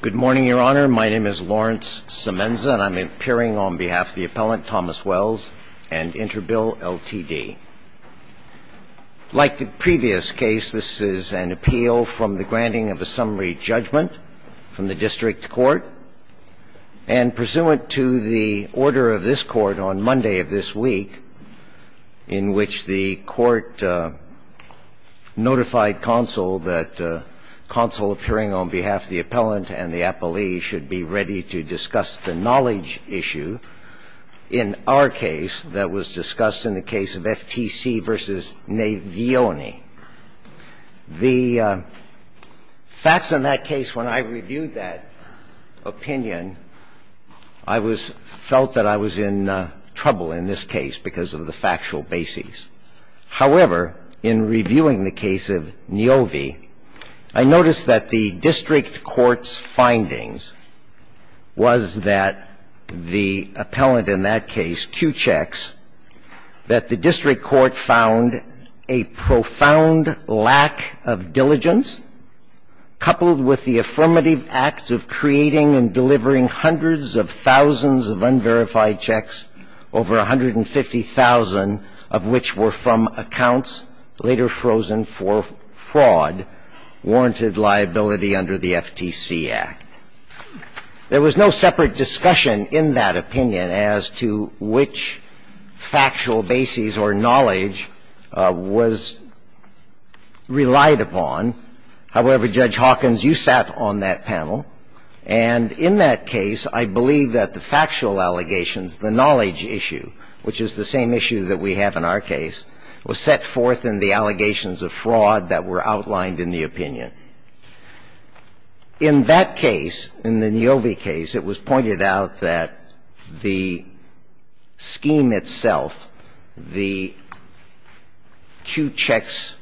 Good morning, Your Honor. My name is Lawrence Semenza, and I'm appearing on behalf of the appellant, Thomas Wells, and Interbill, Ltd. Like the previous case, this is an appeal from the granting of a summary judgment from the district court, and pursuant to the order of this court on Monday of this week, in which the court notified counsel that counsel appearing on behalf of the appellant and the appellee should be ready to discuss the knowledge issue in our case that was discussed in the case of FTC v. Navioni. The facts in that case, when I reviewed that opinion, I felt that I was in trouble in this case because of the factual basis. However, in reviewing the case of Niovi, I noticed that the district court's findings was that the appellant in that case, two checks, that the district court found a profound lack of diligence, coupled with the affirmative acts of creating and delivering of thousands of unverified checks, over 150,000 of which were from accounts later frozen for fraud, warranted liability under the FTC Act. There was no separate discussion in that opinion as to which factual basis or knowledge was relied upon. However, Judge Hawkins, you sat on that panel, and in that case, I believe that the factual allegations, the knowledge issue, which is the same issue that we have in our case, was set forth in the allegations of fraud that were outlined in the opinion. In that case, in the Niovi case, it was pointed out that the scheme itself, the two checks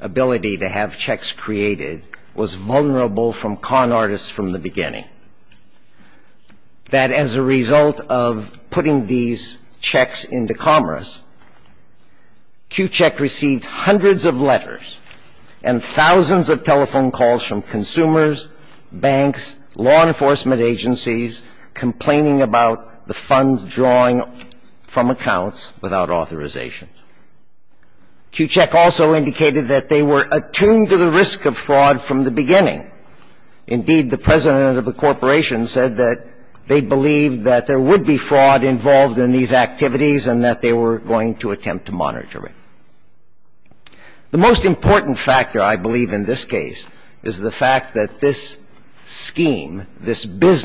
ability to have checks created, was vulnerable from con artists from the beginning, that as a result of putting these checks into commerce, Kewcheck received hundreds of letters and thousands of telephone calls from consumers, banks, law enforcement agencies, complaining about the funds drawing from accounts without authorization. Kewcheck also indicated that they were attuned to the risk of fraud from the beginning. Indeed, the president of the corporation said that they believed that there would be fraud involved in these activities and that they were going to attempt to monitor it. The most important factor, I believe, in this case is the fact that this scheme, this The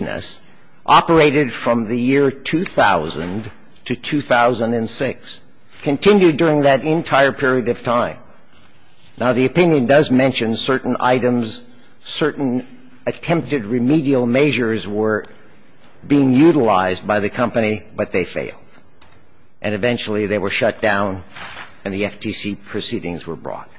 opinion does mention certain items, certain attempted remedial measures were being utilized by the company, but they failed. And eventually, they were shut down and the FTC proceedings were brought.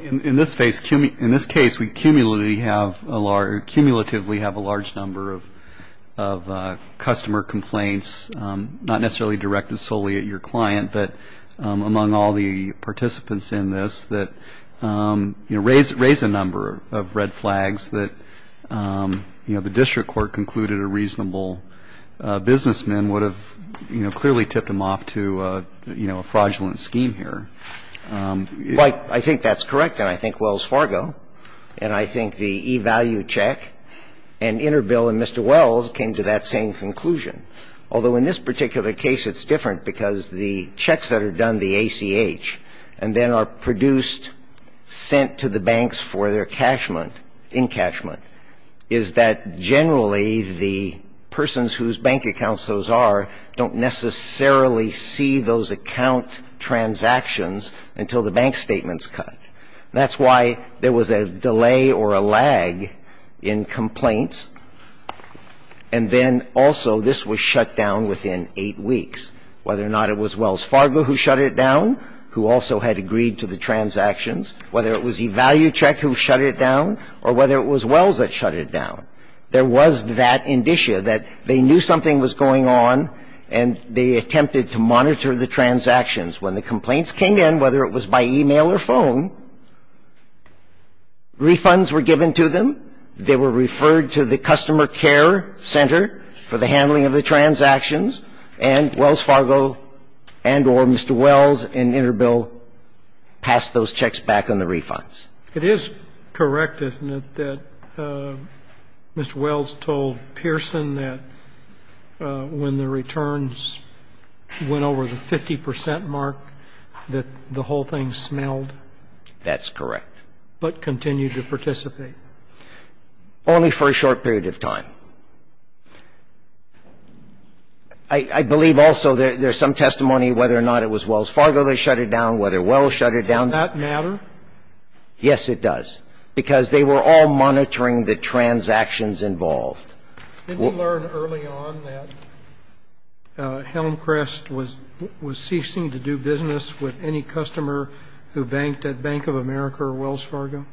In this case, we cumulatively have a large number of customer complaints, not necessarily directed solely at your client, but among all the participants in this, that raise a number of red flags that the district court concluded a reasonable businessman would have clearly tipped them off to a fraudulent scheme here. I think that's correct, and I think Wells Fargo, and I think the E-Value check, and Interbill and Mr. Wells came to that same conclusion. Although, in this particular case, it's different, because the checks that are done, the ACH, and then are produced, sent to the banks for their cashment, encashment, is that generally the persons whose bank accounts those are don't necessarily see those account transactions until the bank statement's cut. That's why there was a delay or a lag in complaints, and then also, this was the case that was shut down within eight weeks, whether or not it was Wells Fargo who shut it down, who also had agreed to the transactions, whether it was E-Value check who shut it down, or whether it was Wells that shut it down. There was that indicia that they knew something was going on, and they attempted to monitor the transactions. When the complaints came in, whether it was by e-mail or phone, refunds were given to them. They were referred to the customer care center for the handling of the transactions, and Wells Fargo and or Mr. Wells and Interbill passed those checks back on the refunds. It is correct, isn't it, that Mr. Wells told Pearson that when the returns went over the 50 percent mark, that the whole thing smelled? That's correct. But continued to participate. Only for a short period of time. I believe also there's some testimony whether or not it was Wells Fargo that shut it down, whether Wells shut it down. Does that matter? Yes, it does, because they were all monitoring the transactions involved. Didn't you learn early on that Helmcrest was ceasing to do business with any customer who banked at Bank of America or Wells Fargo?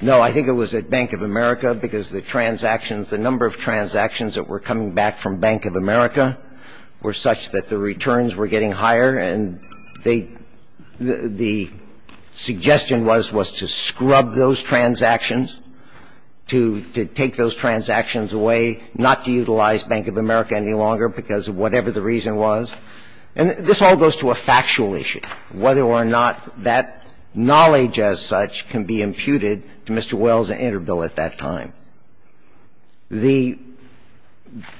No. I think it was at Bank of America, because the transactions, the number of transactions that were coming back from Bank of America were such that the returns were getting higher, and they the suggestion was, was to scrub those transactions, to take those transactions away, not to utilize Bank of America any longer because of whatever the reason was. And this all goes to a factual issue, whether or not that knowledge as such can be imputed to Mr. Wells and Interbil at that time. The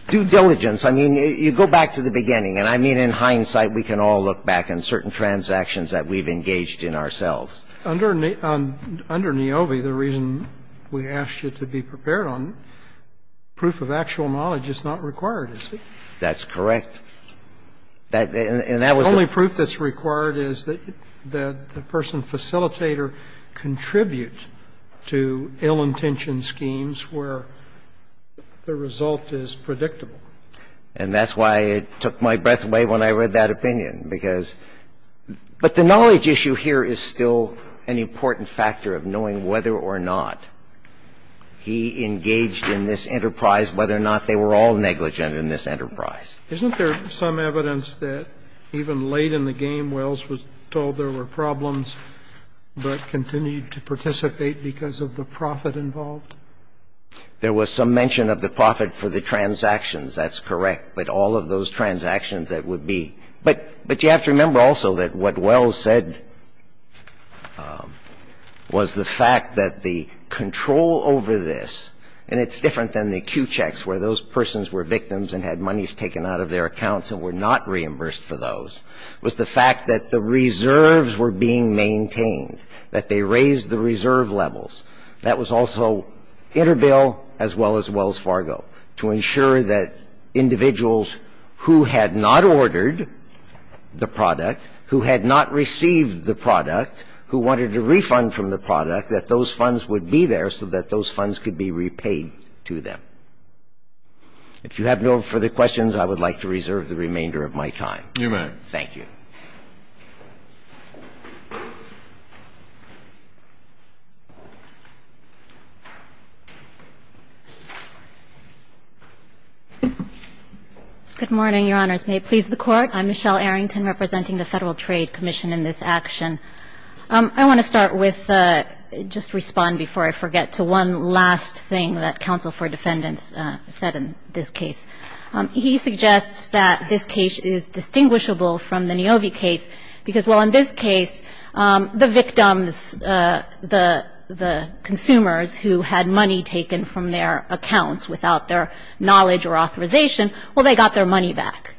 due diligence, I mean, you go back to the beginning, and I mean in hindsight we can all look back on certain transactions that we've engaged in ourselves. Under NAOVI, the reason we asked you to be prepared on proof of actual knowledge is not required, is it? That's correct. And that was the only proof that's required is that the person facilitator contribute to ill-intentioned schemes where the result is predictable. And that's why it took my breath away when I read that opinion, because the knowledge issue here is still an important factor of knowing whether or not he engaged in this enterprise, whether or not they were all negligent in this enterprise. Isn't there some evidence that even late in the game, Wells was told there were problems but continued to participate because of the profit involved? There was some mention of the profit for the transactions. That's correct. But all of those transactions that would be – but you have to remember also that what Wells said was the fact that the control over this – and it's different than the acute checks where those persons were victims and had monies taken out of their accounts and were not reimbursed for those – was the fact that the reserves were being maintained, that they raised the reserve levels. That was also Interbil as well as Wells Fargo to ensure that individuals who had not ordered the product, who had not received the product, who wanted a refund from the product, that those funds would be there so that those funds could be repaid to them. If you have no further questions, I would like to reserve the remainder of my time. You may. Thank you. Good morning, Your Honors. May it please the Court. I'm Michelle Arrington representing the Federal Trade Commission in this action. I want to start with – just respond before I forget to one last thing that counsel for defendants said in this case. He suggests that this case is distinguishable from the Niovi case because while in this case, the victims, the consumers who had money taken from their accounts without their knowledge or authorization, well, they got their money back.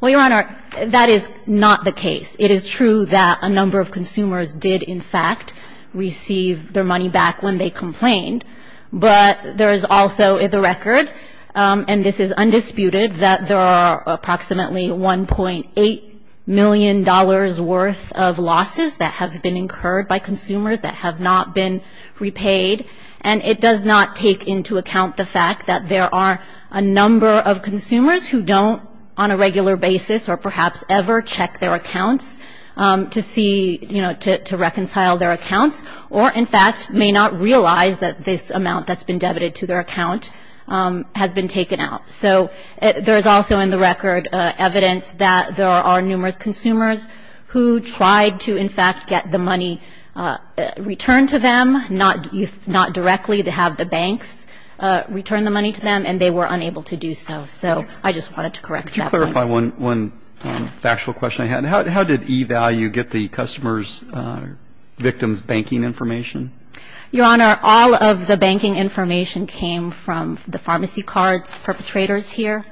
Well, Your Honor, that is not the case. It is true that a number of consumers did, in fact, receive their money back when they complained, but there is also the record, and this is undisputed, that there are approximately $1.8 million worth of losses that have been incurred by consumers that have not been repaid. And it does not take into account the fact that there are a number of consumers who don't, on a regular basis or perhaps ever, check their accounts to see, you know, to reconcile their accounts or, in fact, may not realize that this amount that's been debited to their account has been taken out. So there is also in the record evidence that there are numerous consumers who tried to, in fact, get the money returned to them, not directly. They have the banks return the money to them, and they were unable to do so. So I just wanted to correct that point. Could you clarify one factual question I had? How did E-Value get the customer's victim's banking information? Your Honor, all of the banking information came from the pharmacy cards perpetrators here.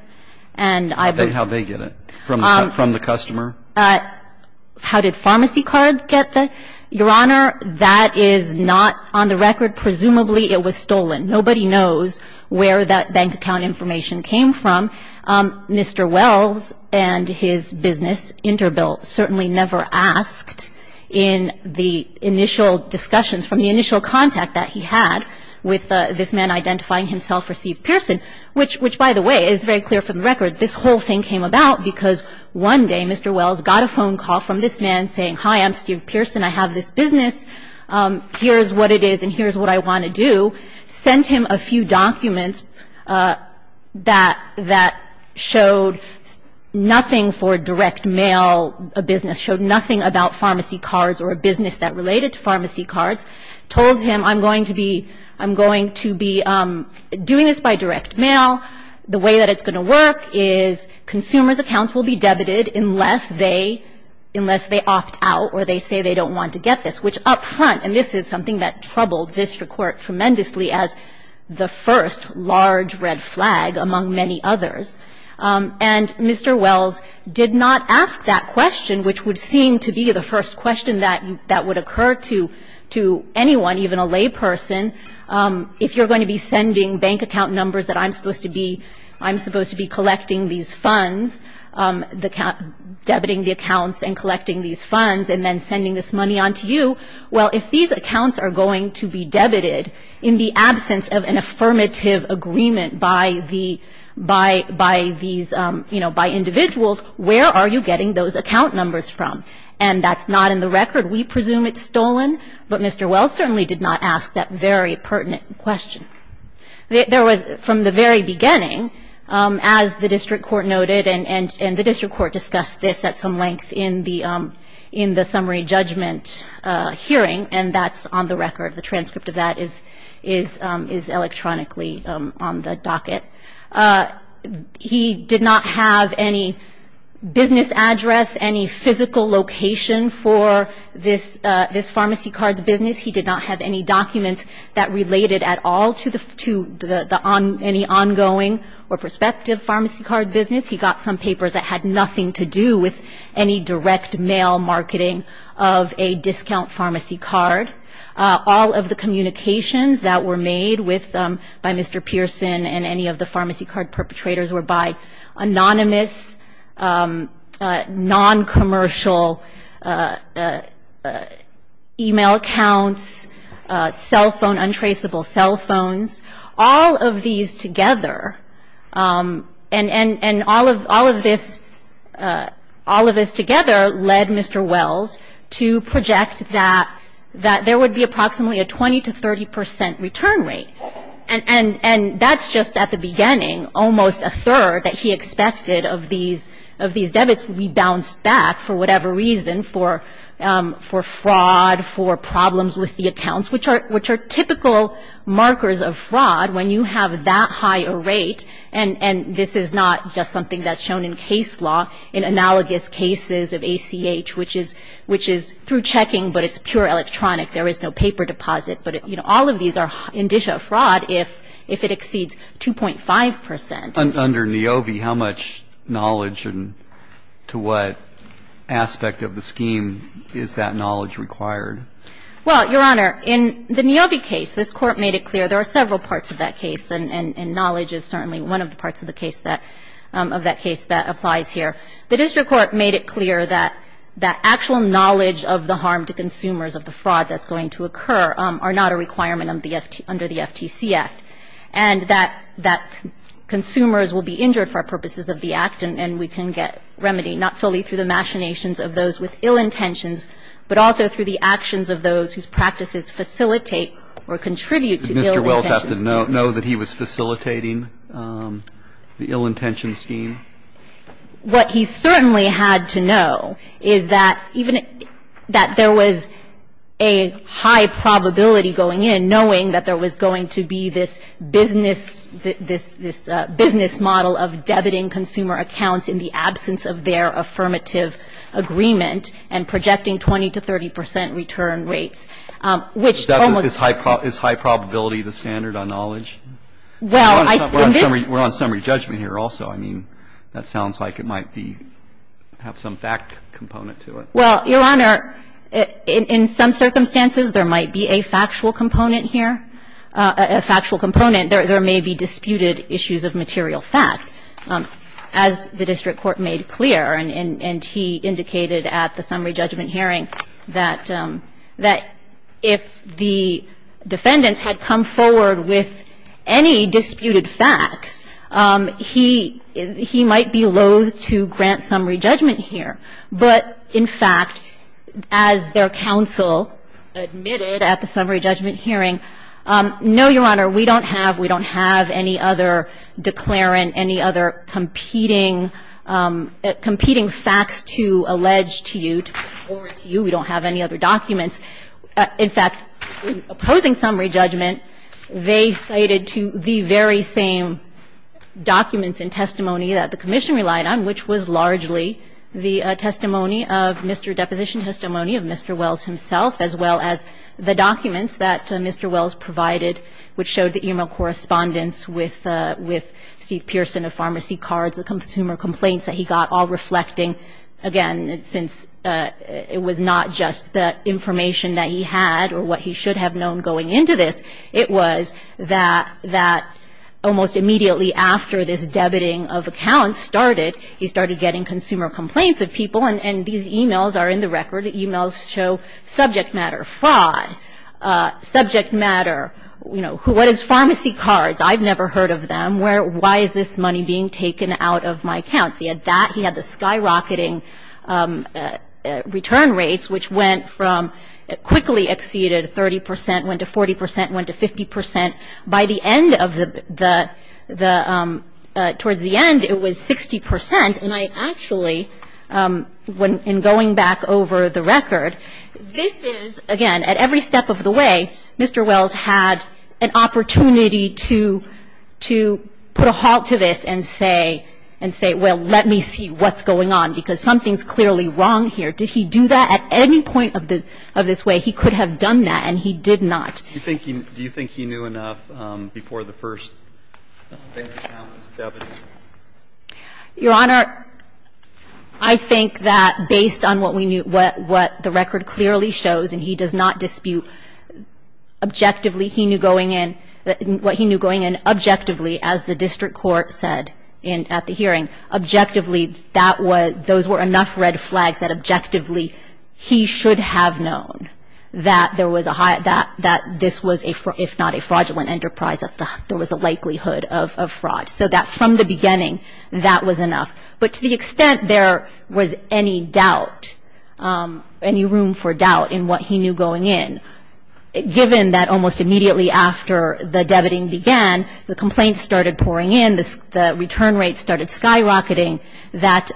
And I've been How did they get it? From the customer? How did pharmacy cards get the? Your Honor, that is not on the record. Presumably, it was stolen. Nobody knows where that bank account information came from. Mr. Wells and his business, Interbill, certainly never asked in the initial discussions from the initial contact that he had with this man identifying himself for Steve Pearson, which, by the way, is very clear from the record. This whole thing came about because one day, Mr. Wells got a phone call from this man saying, hi, I'm Steve Pearson. I have this business. Here's what it is, and here's what I want to do. Sent him a few documents that showed nothing for direct mail, a business. Showed nothing about pharmacy cards or a business that related to pharmacy cards. Told him, I'm going to be doing this by direct mail. The way that it's going to work is consumers' accounts will be debited unless they opt out or they say they don't want to get this, which up front, and this is something that troubled this court tremendously as the first large red flag, among many others. And Mr. Wells did not ask that question, which would seem to be the first question that would occur to anyone, even a layperson, if you're going to be sending bank account numbers that I'm supposed to be collecting these funds, debiting the accounts and collecting these funds and then sending this money on to you. Well, if these accounts are going to be debited in the absence of an affirmative agreement by the, by these, you know, by individuals, where are you getting those account numbers from? And that's not in the record. We presume it's stolen, but Mr. Wells certainly did not ask that very pertinent question. There was, from the very beginning, as the district court noted, and the district court discussed this at some length in the summary judgment hearing, and that's on the record. The transcript of that is electronically on the docket. He did not have any business address, any physical location for this pharmacy card business. He did not have any documents that related at all to the, to the on, any ongoing or prospective pharmacy card business. He got some papers that had nothing to do with any direct mail marketing of a discount pharmacy card. All of the communications that were made with, by Mr. Pearson and any of the pharmacy card perpetrators were by anonymous, non-commercial email accounts, cell phone, untraceable cell phones. All of these together, and all of this, all of this together led Mr. Wells to project that there would be approximately a 20 to 30 percent return rate. And that's just at the beginning, almost a third that he expected of these, of these debits would be bounced back for whatever reason, for fraud, for problems with the accounts, which are, which are typical markers of fraud when you have that high a rate, and, and this is not just something that's shown in case law, in analogous cases of ACH, which is, which is through checking, but it's pure electronic. There is no paper deposit. But, you know, all of these are indicia of fraud if, if it exceeds 2.5 percent. And under NAOBI, how much knowledge and to what aspect of the scheme is that knowledge required? Well, Your Honor, in the NAOBI case, this Court made it clear there are several parts of that case, and knowledge is certainly one of the parts of the case that, of that case that applies here. The district court made it clear that, that actual knowledge of the harm to consumers of the fraud that's going to occur are not a requirement under the FTC Act. And that, that consumers will be injured for purposes of the Act, and, and we can get remedy, not solely through the machinations of those with ill intentions, but also through the actions of those whose practices facilitate or contribute to ill intentions. Did Mr. Welch have to know that he was facilitating the ill intention scheme? What he certainly had to know is that even, that there was a high probability going in, knowing that there was going to be this business, this, this business model of debiting consumer accounts in the absence of their affirmative agreement and projecting 20 to 30 percent return rates, which almost always is high probability the standard on knowledge. Well, I think this We're on summary judgment here also. I mean, that sounds like it might be, have some fact component to it. Well, Your Honor, in, in some circumstances, there might be a factual component here, a factual component. There, there may be disputed issues of material fact. As the district court made clear, and, and, and he indicated at the summary judgment hearing that, that if the defendants had come forward with any disputed facts, he, he might be loathe to grant summary judgment here. But in fact, as their counsel admitted at the summary judgment hearing, no, Your Honor, we don't have, we don't have any other declarant, any other competing, competing facts to allege to you, to report to you. We don't have any other documents. In fact, in opposing summary judgment, they cited to the very same documents and testimony that the Commission relied on, which was largely the testimony of Mr. Deposition, testimony of Mr. Wells himself, as well as the documents that Mr. Wells provided, which showed the email correspondence with, with Steve Pearson of Pharmacy Cards, the consumer complaints that he got, all reflecting, again, since it was not just the information that he had or what he should have known going into this. It was that, that almost immediately after this debiting of accounts started, he started getting consumer complaints of people. And, and these emails are in the record. The emails show subject matter, fraud, subject matter, you know, what is Pharmacy Cards? I've never heard of them. Where, why is this money being taken out of my accounts? He had that, he had the skyrocketing return rates, which went from, quickly exceeded 30 percent, went to 40 percent, went to 50 percent. By the end of the, the, towards the end, it was 60 percent. And I actually, when, in going back over the record, this is, again, at every step of the way, Mr. Wells had an opportunity to, to put a halt to this and say, and say, well, let me see what's going on, because something's clearly wrong here. Did he do that? At any point of the, of this way, he could have done that, and he did not. Do you think he, do you think he knew enough before the first bank account was debited? Your Honor, I think that based on what we knew, what, what the record clearly shows, and he does not dispute objectively, he knew going in, what he knew going in objectively, as the district court said in, at the hearing, objectively, that was, those were enough red flags that objectively he should have known that there was a high, that, that this was a, if not a fraudulent enterprise, there was a likelihood of, of fraud. So that from the beginning, that was enough. But to the extent there was any doubt, any room for doubt in what he knew going in, given that almost immediately after the debiting began, the complaints started pouring in, the return rates started skyrocketing, that,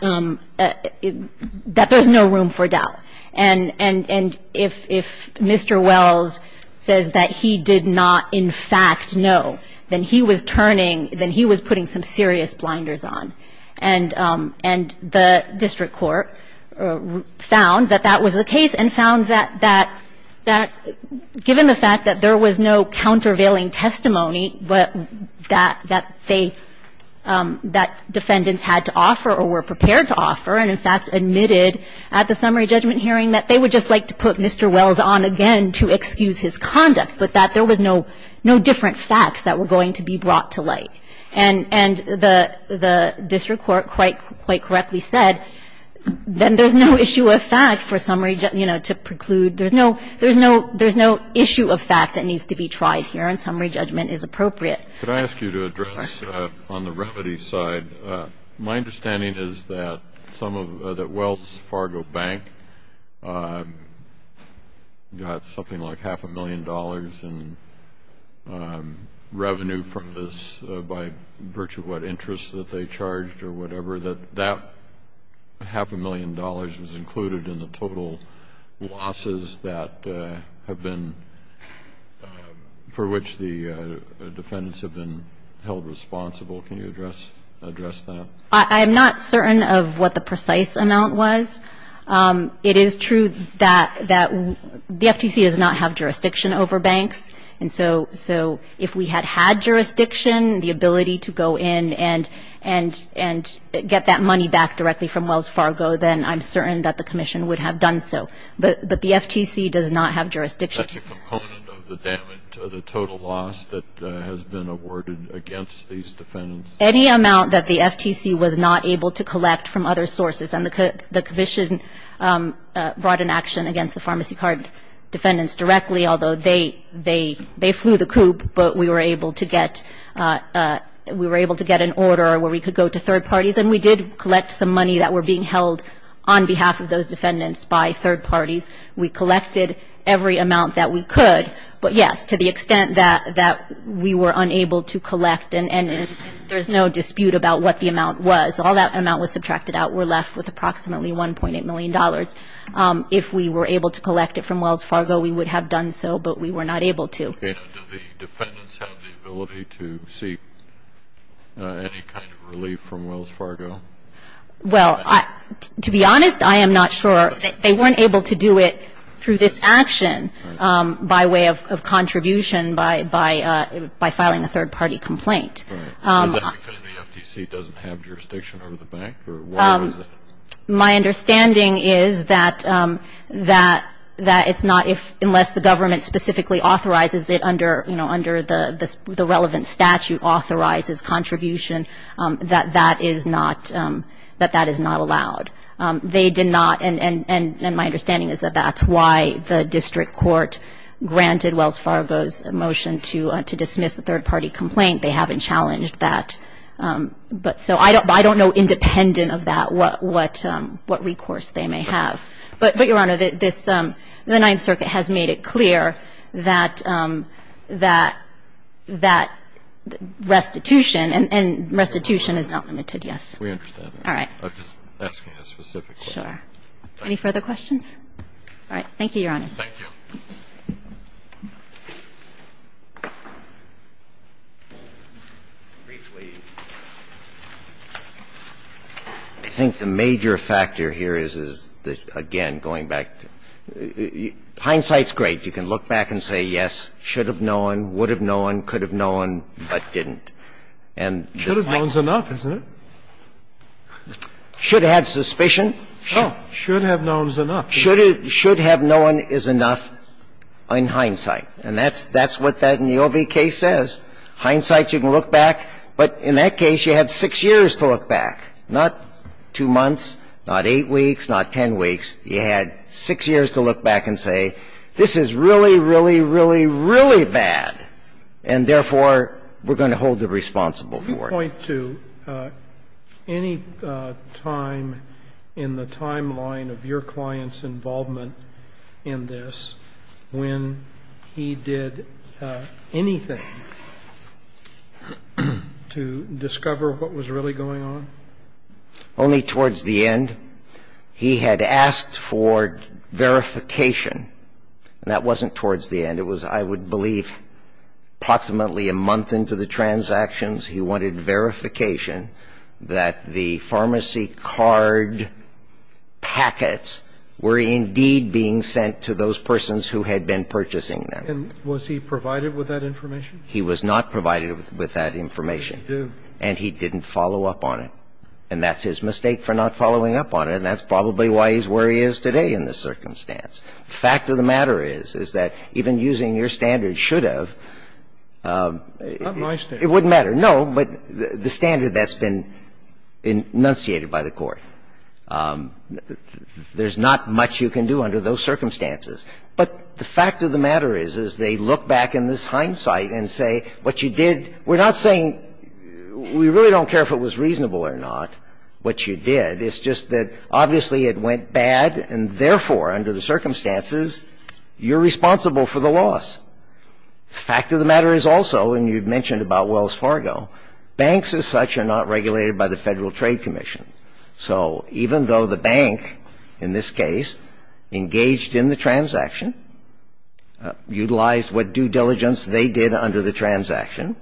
that there's no room for doubt. And, and, and if, if Mr. Wells says that he did not, in fact, know, then he was turning, then he was putting some serious blinders on. And, and the district court found that that was the case, and found that, that, that given the fact that there was no countervailing testimony, but that, that they, that defendants had to offer or were prepared to offer, and in fact admitted at the summary judgment hearing that they would just like to put Mr. Wells on again to excuse his conduct, but that there was no, no different facts that were going to be brought to light. And, and the, the district court quite, quite correctly said, then there's no issue of fact for summary, you know, to preclude. There's no, there's no, there's no issue of fact that needs to be tried here, and summary judgment is appropriate. Could I ask you to address on the remedy side, my understanding is that some of the Wells Fargo Bank got something like half a million dollars in revenue from this by virtue of what interest that they charged or whatever, that, that half a million dollars was included in the total losses that have been, for which the defendants have been held responsible. Can you address, address that? I'm not certain of what the precise amount was. It is true that, that the FTC does not have jurisdiction over banks. And so, so if we had had jurisdiction, the ability to go in and, and, and get that money back directly from Wells Fargo, then I'm certain that the commission would have done so, but, but the FTC does not have jurisdiction. That's a component of the damage, the total loss that has been awarded against these defendants. Any amount that the FTC was not able to collect from other sources, and the, the commission brought an action against the pharmacy card defendants directly, although they, they, they flew the coop, but we were able to get, we were able to get an order where we could go to third parties, and we did collect some money that were being held on behalf of those defendants by third parties. We collected every amount that we could, but yes, to the extent that, that we were able to do so, there's no dispute about what the amount was. All that amount was subtracted out. We're left with approximately $1.8 million. If we were able to collect it from Wells Fargo, we would have done so, but we were not able to. Okay. Now, do the defendants have the ability to seek any kind of relief from Wells Fargo? Well, I, to be honest, I am not sure they weren't able to do it through this action by way of, of contribution by, by, by filing a third party complaint. Is that because the FTC doesn't have jurisdiction over the bank, or why was it? My understanding is that, that, that it's not if, unless the government specifically authorizes it under, you know, under the, the relevant statute authorizes contribution, that, that is not, that, that is not allowed. They did not, and, and, and, and my understanding is that that's why the district court granted Wells Fargo's motion to, to dismiss the third party complaint, they haven't challenged that, but so I don't, I don't know independent of that what, what, what recourse they may have, but, but Your Honor, this, the Ninth Circuit has made it clear that, that, that restitution and, and restitution is not limited, yes. We understand that. All right. I'm just asking a specific question. Sure. Any further questions? All right. Thank you, Your Honor. Thank you. I think the major factor here is, is that, again, going back to, hindsight is great. You can look back and say, yes, should have known, would have known, could have known, but didn't. And the fact is that. Should have known is enough, isn't it? Should have had suspicion. Should have known is enough. Should have known is enough in hindsight. And that's, that's what that in the OBK says. Hindsight, you can look back, but in that case, you had six years to look back, not two months, not eight weeks, not ten weeks. You had six years to look back and say, this is really, really, really, really bad, and therefore, we're going to hold them responsible for it. Can you point to any time in the timeline of your client's involvement in this when he did anything to discover what was really going on? Only towards the end. He had asked for verification, and that wasn't towards the end. It was, I would believe, approximately a month into the transactions. He wanted verification that the pharmacy card packets were indeed being sent to those persons who had been purchasing them. And was he provided with that information? He was not provided with that information. He didn't do. And he didn't follow up on it. And that's his mistake for not following up on it, and that's probably why he's where he is today in this circumstance. The fact of the matter is, is that even using your standards should have. Not my standards. No, but the standard that's been enunciated by the Court. There's not much you can do under those circumstances. But the fact of the matter is, is they look back in this hindsight and say, what you did, we're not saying we really don't care if it was reasonable or not, what you did. It's just that, obviously, it went bad, and therefore, under the circumstances, you're responsible for the loss. The fact of the matter is also, and you've mentioned about Wells Fargo, banks as such are not regulated by the Federal Trade Commission. So even though the bank, in this case, engaged in the transaction, utilized what due diligence they did under the transaction,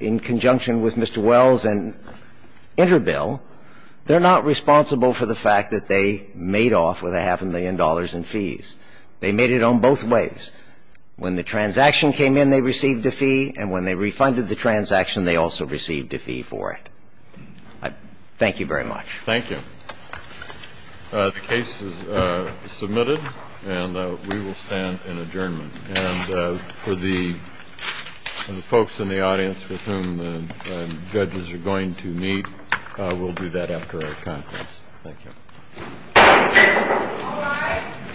in conjunction with Mr. Wells and Interbil, they're not responsible for the fact that they made off with a half a million dollars in fees. They made it on both ways. When the transaction came in, they received a fee, and when they refunded the transaction, they also received a fee for it. I thank you very much. Thank you. The case is submitted, and we will stand in adjournment. And for the folks in the audience with whom the judges are going to meet, we'll do that after our conference. Thank you.